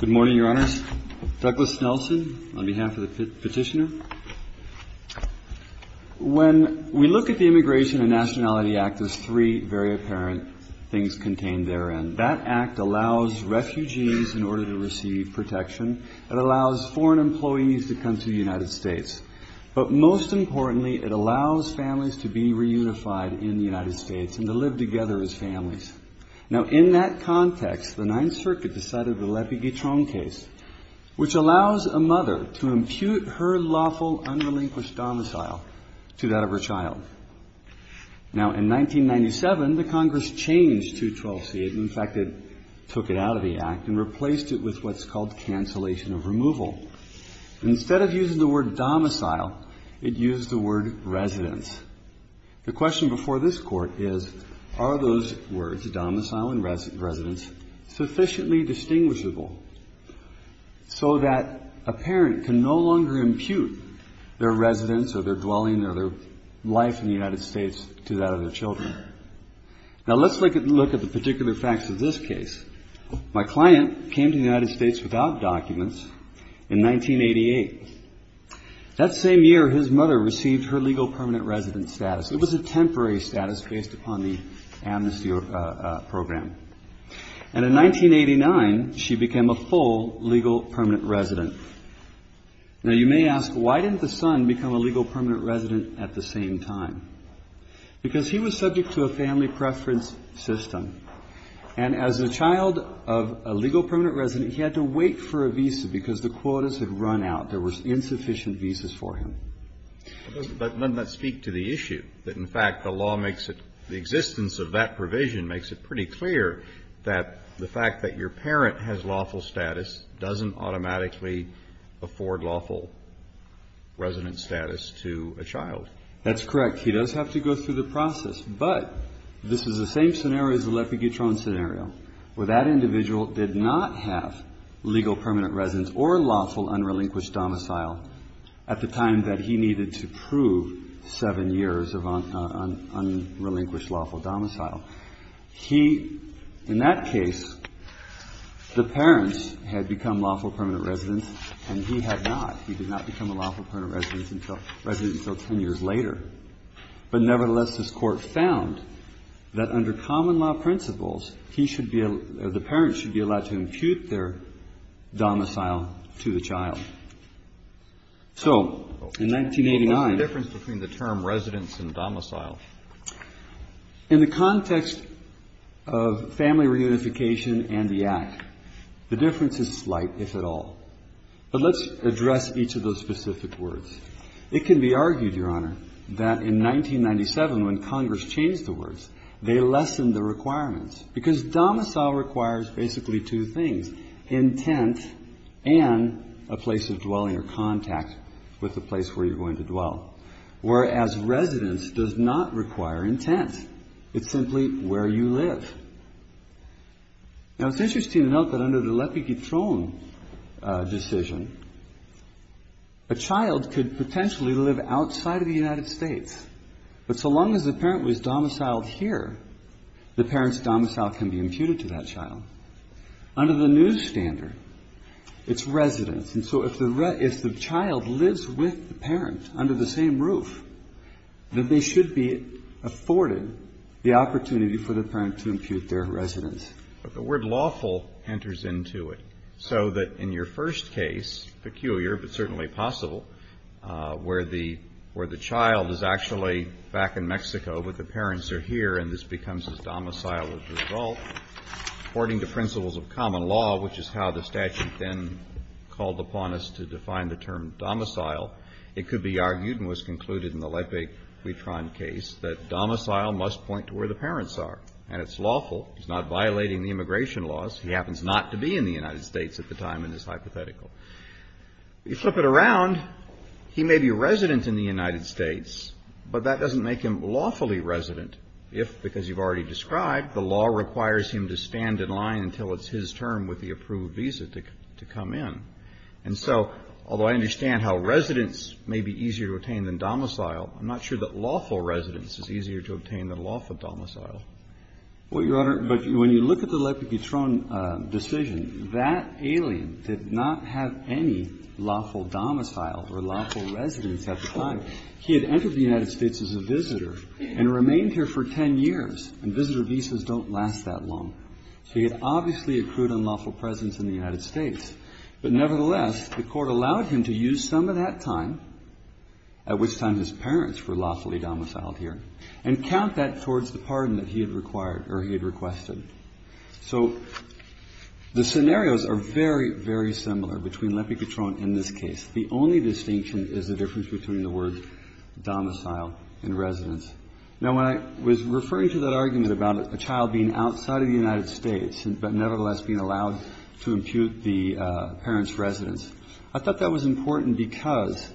Good morning, Your Honors. Douglas Nelson, on behalf of the petitioner. When we look at the Immigration and Nationality Act, there's three very apparent things contained therein. That act allows refugees, in order to receive protection, it allows foreign employees to come to the United States. But most importantly, it allows families to be reunified in the United States and to live together as families. Now, in that context, the Ninth Circuit decided the Lepe-Guitron case, which allows a mother to impute her lawful, unrelinquished domicile to that of her child. Now, in 1997, the Congress changed 212C. In fact, it took it out of the act and replaced it with what's called cancellation of removal. Instead of using the word domicile, it used the word residence. The question before this Court is, are those words, domicile and residence, sufficiently distinguishable so that a parent can no longer impute their residence or their dwelling or their life in the United States to that of their children? Now, let's look at the particular facts of this case. My client came to the United States without documents in 1988. That same year, his mother received her legal permanent residence status. It was a temporary status based upon the amnesty program. And in 1989, she became a full legal permanent resident. Now, you may ask, why didn't the son become a legal permanent resident at the same time? Because he was subject to a family preference system. And as a child of a legal permanent resident, he had to wait for a visa because the quotas had run out. There were insufficient visas for him. But doesn't that speak to the issue that, in fact, the law makes it, the existence of that provision makes it pretty clear that the fact that your parent has lawful status doesn't automatically afford lawful residence status to a child? That's correct. He does have to go through the process. But this is the same scenario as the Lepaguetron scenario, where that individual did not have legal permanent residence or lawful unrelinquished domicile at the time that he needed to prove seven years of unrelinquished lawful domicile. He, in that case, the parents had become lawful permanent residents, and he had not. He did not become a lawful permanent resident until 10 years later. But, nevertheless, this Court found that under common law principles, he should be or the parents should be allowed to impute their domicile to the child. So in 1989 the difference between the term residence and domicile. In the context of family reunification and the Act, the difference is slight, if at all. But let's address each of those specific words. It can be argued, Your Honor, that in 1997, when Congress changed the words, they lessened the requirements because domicile requires basically two things, intent and a place of dwelling or contact with the place where you're going to dwell, whereas residence does not require intent. It's simply where you live. Now, it's interesting to note that under the Lepiketron decision, a child could potentially live outside of the United States. But so long as the parent was domiciled here, the parent's domicile can be imputed to that child. Under the new standard, it's residence. And so if the child lives with the parent under the same roof, then they should be afforded the opportunity for the parent to impute their residence. But the word lawful enters into it. So that in your first case, peculiar but certainly possible, where the child is actually back in Mexico, but the parents are here, and this becomes his domicile as a result, according to principles of common law, which is how the statute then called upon us to define the term domicile, it could be argued and was concluded in the Lepiketron case that domicile must point to where the parents are. And it's lawful. He's not violating the immigration laws. He happens not to be in the United States at the time in this hypothetical. You flip it around, he may be a resident in the United States, but that doesn't make him lawfully resident if, because you've already described, the law requires him to stand in line until it's his term with the approved visa to come in. And so, although I understand how residence may be easier to obtain than domicile, I'm not sure that lawful residence is easier to obtain than lawful domicile. Well, Your Honor, but when you look at the Lepiketron decision, that alien did not have any lawful domicile or lawful residence at the time. He had entered the United States as a visitor and remained here for 10 years, and visitor visas don't last that long. So he had obviously accrued unlawful presence in the United States. But nevertheless, the Court allowed him to use some of that time, at which time his parents were lawfully domiciled here, and count that towards the pardon that he had required or he had requested. So the scenarios are very, very similar between Lepiketron and this case. The only distinction is the difference between the words domicile and residence. Now, when I was referring to that argument about a child being outside of the United States but nevertheless being allowed to impute the parent's residence, I thought that was important because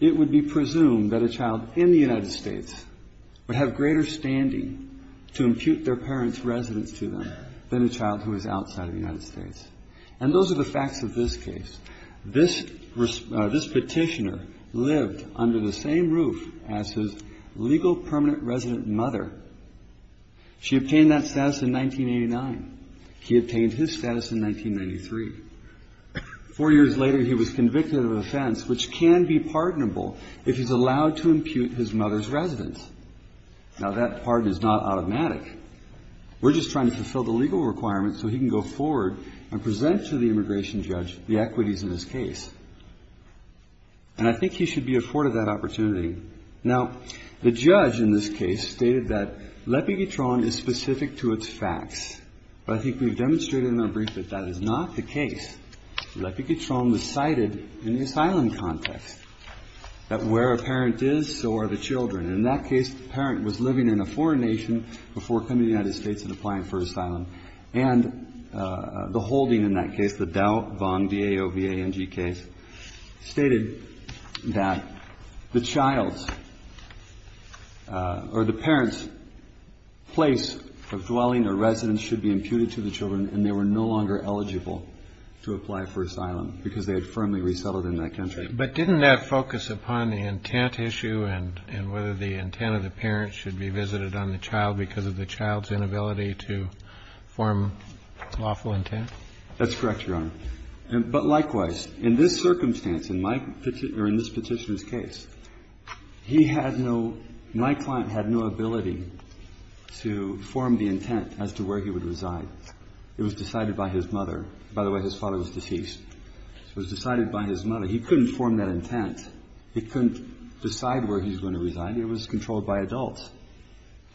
it would be presumed that a child in the United States would have greater standing to impute their parent's residence to them than a child who is outside of the United States. And those are the facts of this case. This petitioner lived under the same roof as his legal permanent resident mother. She obtained that status in 1989. He obtained his status in 1993. Four years later, he was convicted of an offense which can be pardonable if he's allowed to impute his mother's residence. Now, that pardon is not automatic. We're just trying to fulfill the legal requirements so he can go forward and present to the immigration judge the equities in this case. And I think he should be afforded that opportunity. Now, the judge in this case stated that L'Epiguetron is specific to its facts. But I think we've demonstrated in our brief that that is not the case. L'Epiguetron was cited in the asylum context, that where a parent is, so are the children. In that case, the parent was living in a foreign nation before coming to the United States and applying for asylum. And the holding in that case, the Dow, Vong, D-A-O-V-A-N-G case, stated that the child's or the parent's place of dwelling or residence should be imputed to the children and they were no longer eligible to apply for asylum because they had firmly resettled in that country. But didn't that focus upon the intent issue and whether the intent of the parent should be visited on the child because of the child's inability to form lawful intent? That's correct, Your Honor. But likewise, in this circumstance, in this petitioner's case, my client had no ability to form the intent as to where he would reside. It was decided by his mother. By the way, his father was deceased. It was decided by his mother. He couldn't form that intent. He couldn't decide where he was going to reside. It was controlled by adults.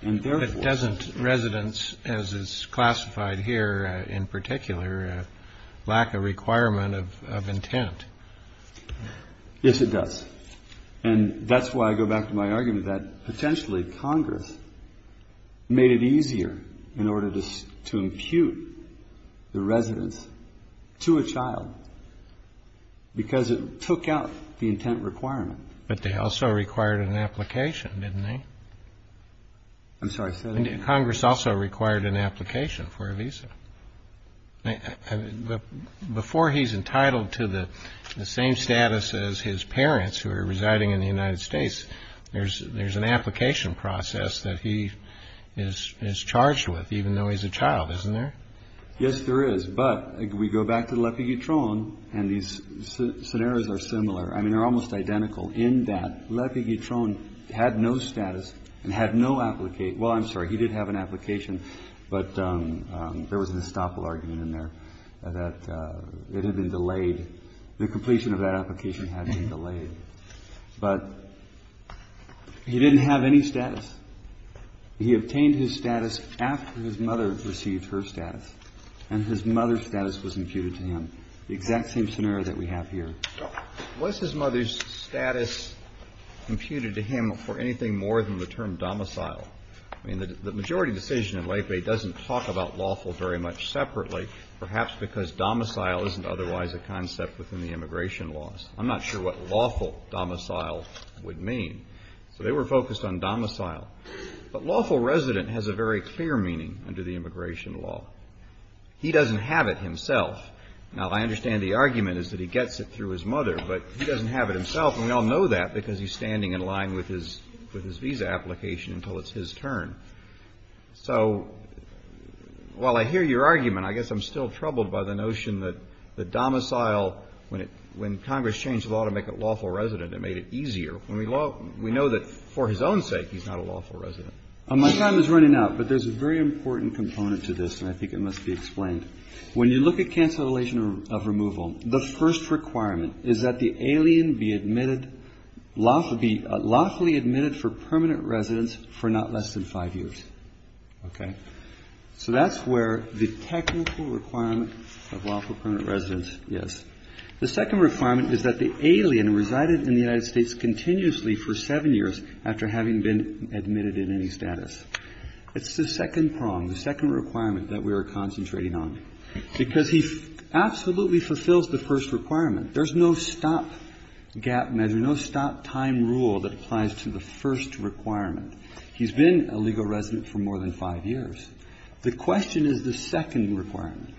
And therefore ---- But doesn't residence, as is classified here in particular, lack a requirement of intent? Yes, it does. And that's why I go back to my argument that potentially Congress made it easier in order to impute the residence to a child because it took out the intent requirement. But they also required an application, didn't they? I'm sorry. Congress also required an application for a visa. Before he's entitled to the same status as his parents, who are residing in the United States, there's an application process that he is charged with, even though he's a child, isn't there? Yes, there is. But we go back to the L'Epiguetron, and these scenarios are similar. I mean, they're almost identical in that L'Epiguetron had no status and had no application. Well, I'm sorry. He did have an application, but there was an estoppel argument in there that it had been delayed. The completion of that application had been delayed. But he didn't have any status. He obtained his status after his mother received her status, and his mother's status was imputed to him. The exact same scenario that we have here. Was his mother's status imputed to him for anything more than the term domicile? I mean, the majority decision in L'Epiguet doesn't talk about lawful very much separately, perhaps because domicile isn't otherwise a concept within the immigration laws. I'm not sure what lawful domicile would mean. So they were focused on domicile. But lawful resident has a very clear meaning under the immigration law. He doesn't have it himself. Now, I understand the argument is that he gets it through his mother, but he doesn't have it himself. And we all know that because he's standing in line with his visa application until it's his turn. So while I hear your argument, I guess I'm still troubled by the notion that the domicile, when Congress changed the law to make it lawful resident, it made it easier. We know that for his own sake, he's not a lawful resident. My time is running out, but there's a very important component to this, and I think it must be explained. When you look at cancellation of removal, the first requirement is that the alien be admitted, lawfully admitted for permanent residence for not less than five years. Okay? So that's where the technical requirement of lawful permanent residence is. The second requirement is that the alien resided in the United States continuously for seven years after having been admitted in any status. It's the second prong, the second requirement that we are concentrating on, because he absolutely fulfills the first requirement. There's no stop gap measure, no stop time rule that applies to the first requirement. He's been a legal resident for more than five years. The question is the second requirement.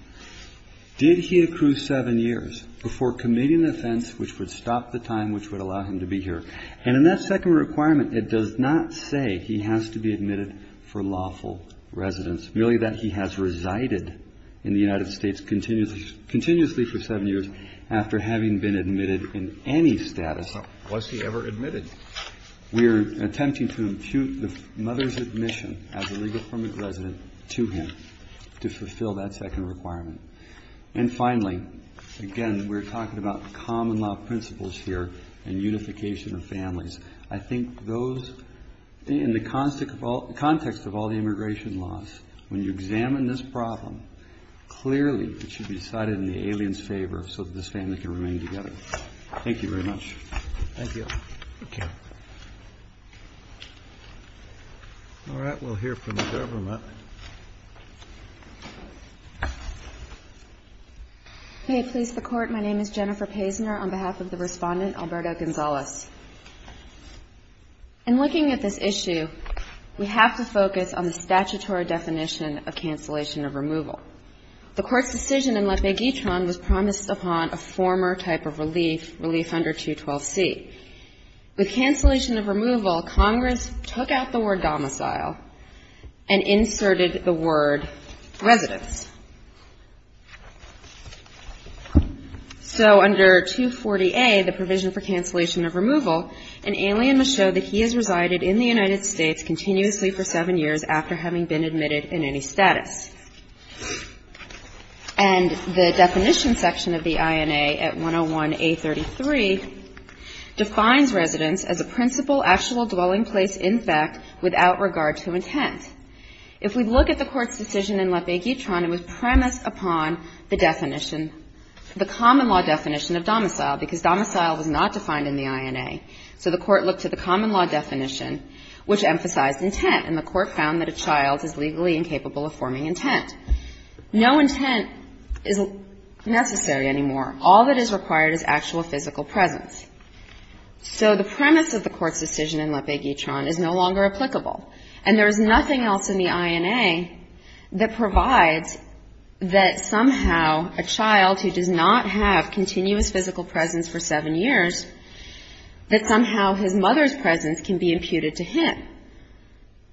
Did he accrue seven years before committing an offense which would stop the time which would allow him to be here? And in that second requirement, it does not say he has to be admitted for lawful residence, merely that he has resided in the United States continuously for seven years after having been admitted in any status. Was he ever admitted? We are attempting to impute the mother's admission as a legal permanent resident to him to fulfill that second requirement. And finally, again, we're talking about common law principles here and unification of families. I think those in the context of all the immigration laws, when you examine this problem, clearly it should be decided in the alien's favor so that this family can remain together. Thank you very much. Thank you. Okay. All right. We'll hear from the government. May it please the Court. My name is Jennifer Pazner on behalf of the Respondent, Alberto Gonzalez. In looking at this issue, we have to focus on the statutory definition of cancellation of removal. The Court's decision in La Peguitron was promised upon a former type of relief, relief under 212C. With cancellation of removal, Congress took out the word domicile and inserted the word residence. So under 240A, the provision for cancellation of removal, an alien must show that he has resided in the United States continuously for seven years after having been admitted in any status. And the definition section of the INA at 101A.33 defines residence as a principal actual dwelling place, in fact, without regard to intent. If we look at the Court's decision in La Peguitron, it was premised upon the definition, the common law definition of domicile, because domicile was not defined in the INA. So the Court looked to the common law definition, which emphasized intent, and the Court found that a child is legally incapable of forming intent. No intent is necessary anymore. All that is required is actual physical presence. So the premise of the Court's decision in La Peguitron is no longer applicable, and there is nothing else in the INA that provides that somehow a child who does not have continuous physical presence for seven years, that somehow his mother's presence can be imputed to him.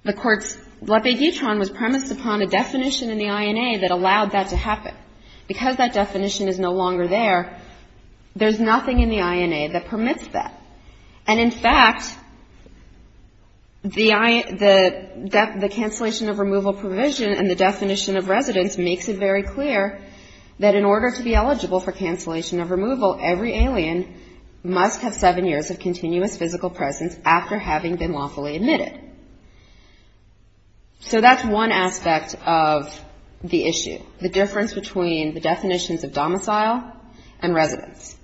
The Court's La Peguitron was premised upon a definition in the INA that allowed that to happen. Because that definition is no longer there, there's nothing in the INA that permits that. And in fact, the cancellation of removal provision and the definition of residence makes it very clear that in order to be eligible for cancellation of removal, every alien must have seven years of continuous physical presence after having been lawfully admitted. So that's one aspect of the issue, the difference between the definitions of domicile and residence.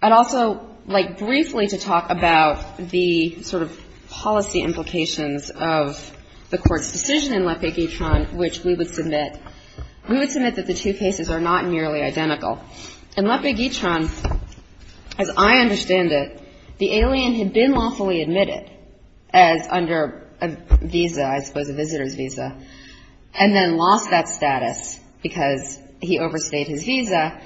I'd also like briefly to talk about the sort of policy implications of the Court's decision in La Peguitron, which we would submit, we would submit that the two cases are not nearly identical. In La Peguitron, as I understand it, the alien had been lawfully admitted, as under a visa, I suppose a visitor's visa, and then lost that status because he overstayed his visa.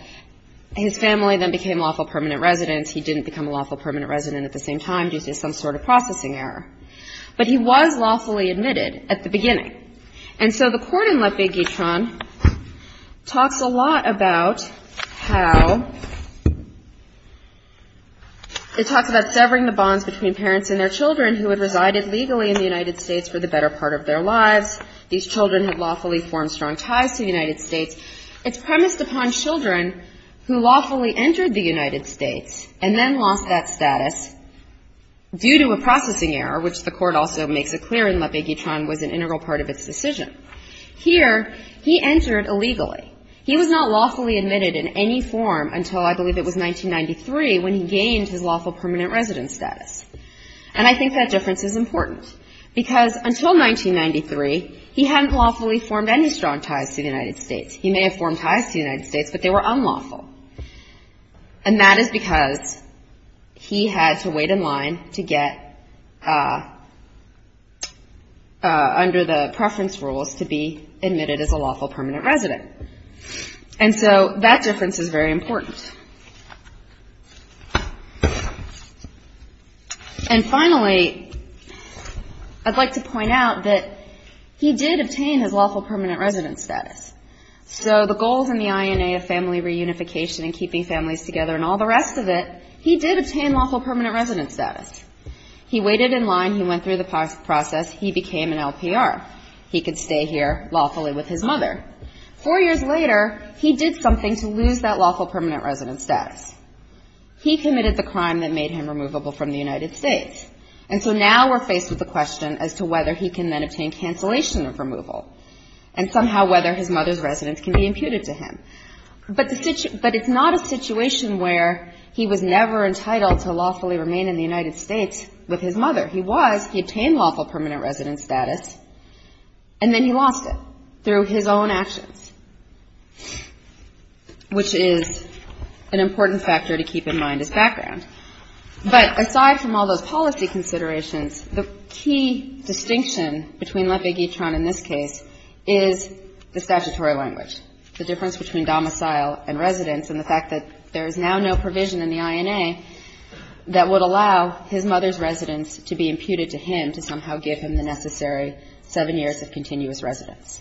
His family then became lawful permanent residents. He didn't become a lawful permanent resident at the same time due to some sort of processing error. But he was lawfully admitted at the beginning. And so the Court in La Peguitron talks a lot about how it talks about severing the bonds between parents and their children who had resided legally in the United States for the better part of their lives. These children had lawfully formed strong ties to the United States. It's premised upon children who lawfully entered the United States and then lost that status due to a processing error, which the Court also makes it clear in La Peguitron was an integral part of its decision. Here, he entered illegally. He was not lawfully admitted in any form until I believe it was 1993 when he gained his lawful permanent residence status. And I think that difference is important, because until 1993, he hadn't lawfully formed any strong ties to the United States. He may have formed ties to the United States, but they were unlawful. And that is because he had to wait in line to get under the preference rules to be admitted as a lawful permanent resident. And so that difference is very important. And finally, I'd like to point out that he did obtain his lawful permanent residence status. So the goals in the INA of family reunification and keeping families together and all the rest of it, he did obtain lawful permanent residence status. He waited in line, he went through the process, he became an LPR. He could stay here lawfully with his mother. Four years later, he did something to lose that lawful permanent residence status. He committed the crime that made him removable from the United States. And so now we're faced with the question as to whether he can then obtain cancellation of removal, and somehow whether his mother's residence can be imputed to him. But it's not a situation where he was never entitled to lawfully remain in the United States with his mother. He was. He obtained lawful permanent residence status, and then he lost it through his own actions, which is an important factor to keep in mind as background. But aside from all those policy considerations, the key distinction between Lepe-Guitron in this case is the statutory language, the difference between domicile and residence, and the fact that there is now no provision in the INA that would allow his mother's residence to be imputed to him to somehow give him the necessary seven years of continuous residence.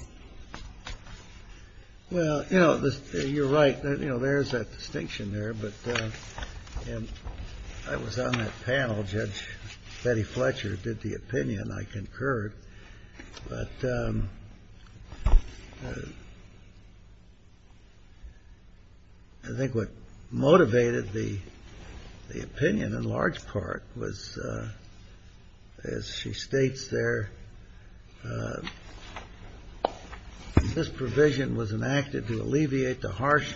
Well, you know, you're right. You know, there is that distinction there. But I was on that panel. Judge Betty Fletcher did the opinion. I concurred. But I think what motivated the opinion in large part was, as she states there, this provision was enacted to alleviate the harsh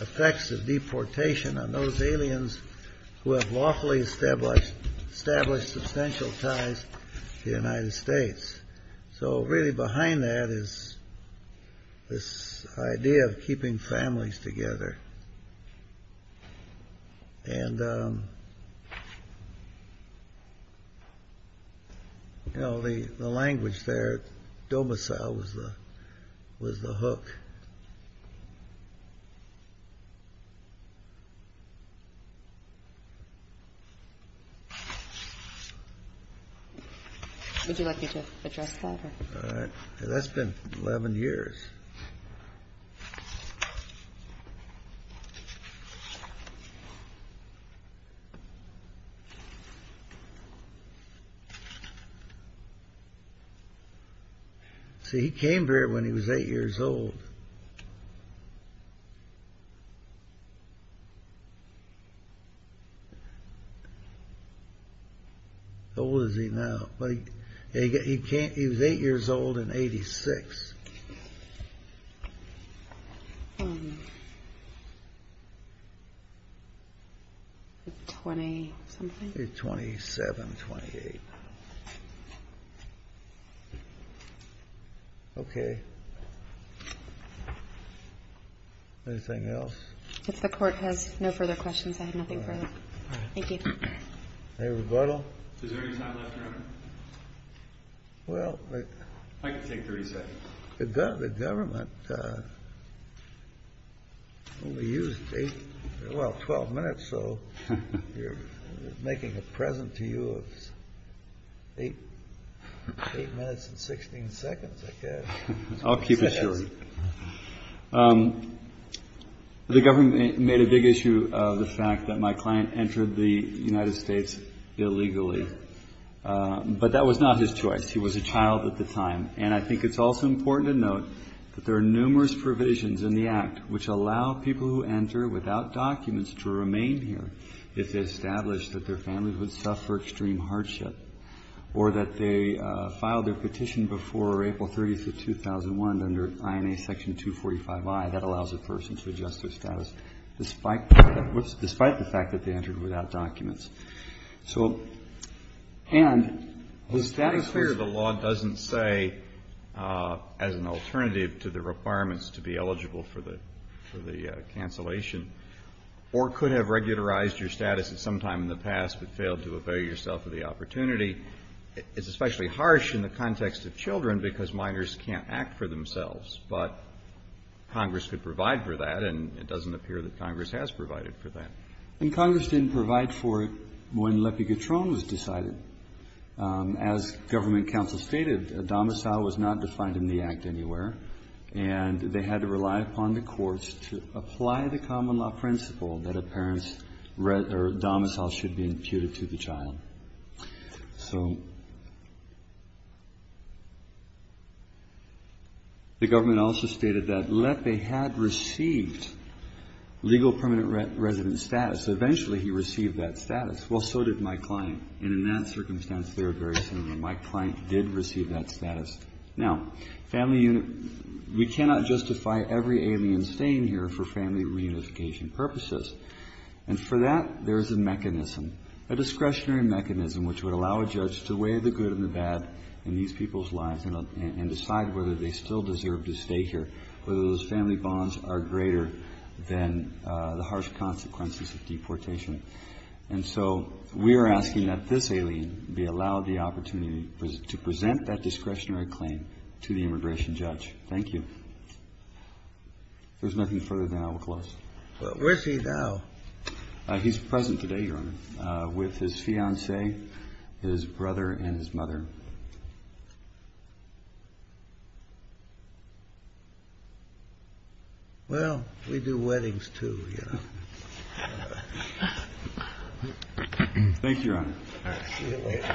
effects of deportation on those aliens who have lawfully established substantial ties to the United States. So really behind that is this idea of keeping families together. And, you know, the language there, domicile was the hook. Would you like me to address that? That's been 11 years. See, he came here when he was eight years old. How old is he now? He was eight years old in 86. Twenty-something. Okay. Anything else? If the Court has no further questions, I have nothing further. Thank you. A rebuttal. Well, I can take 30 seconds. The government only used eight, well, 12 minutes. So you're making a present to you. Eight minutes and 16 seconds. I'll keep it short. The government made a big issue of the fact that my client entered the United States illegally. But that was not his choice. He was a child at the time. And I think it's also important to note that there are numerous provisions in the Act which allow people who enter without documents to remain here. If they establish that their families would suffer extreme hardship or that they filed their petition before April 3rd. 30 to 2001 under INA Section 245I, that allows a person to adjust their status despite the fact that they entered without documents. So, and the status of the law doesn't say as an alternative to the requirements to be eligible for the cancellation or could have regularized your status at some time in the past but failed to avail yourself of the opportunity. It's especially harsh in the context of children because minors can't act for themselves. But Congress could provide for that and it doesn't appear that Congress has provided for that. And Congress didn't provide for it when L'Epigatron was decided. As government counsel stated, a domicile was not defined in the Act anywhere. And they had to rely upon the courts to apply the common law principle that a parent's domicile should be imputed to the child. The government also stated that L'Epigatron had received legal permanent resident status. Eventually he received that status. Well, so did my client. And in that circumstance, my client did receive that status. Now, we cannot justify every alien staying here for family reunification purposes. And for that, there is a mechanism, a discretionary mechanism, which would allow a judge to weigh the good and the bad in these people's lives and decide whether they still deserve to stay here, whether those family bonds are greater than the harsh consequences of deportation. And so we are asking that this alien be allowed the opportunity to present that discretionary claim to the immigration judge. Thank you. If there's nothing further, then I will close. Well, where's he now? He's present today, Your Honor, with his fiancée, his brother, and his mother. Well, we do weddings, too, you know. Thank you, Your Honor. See you later.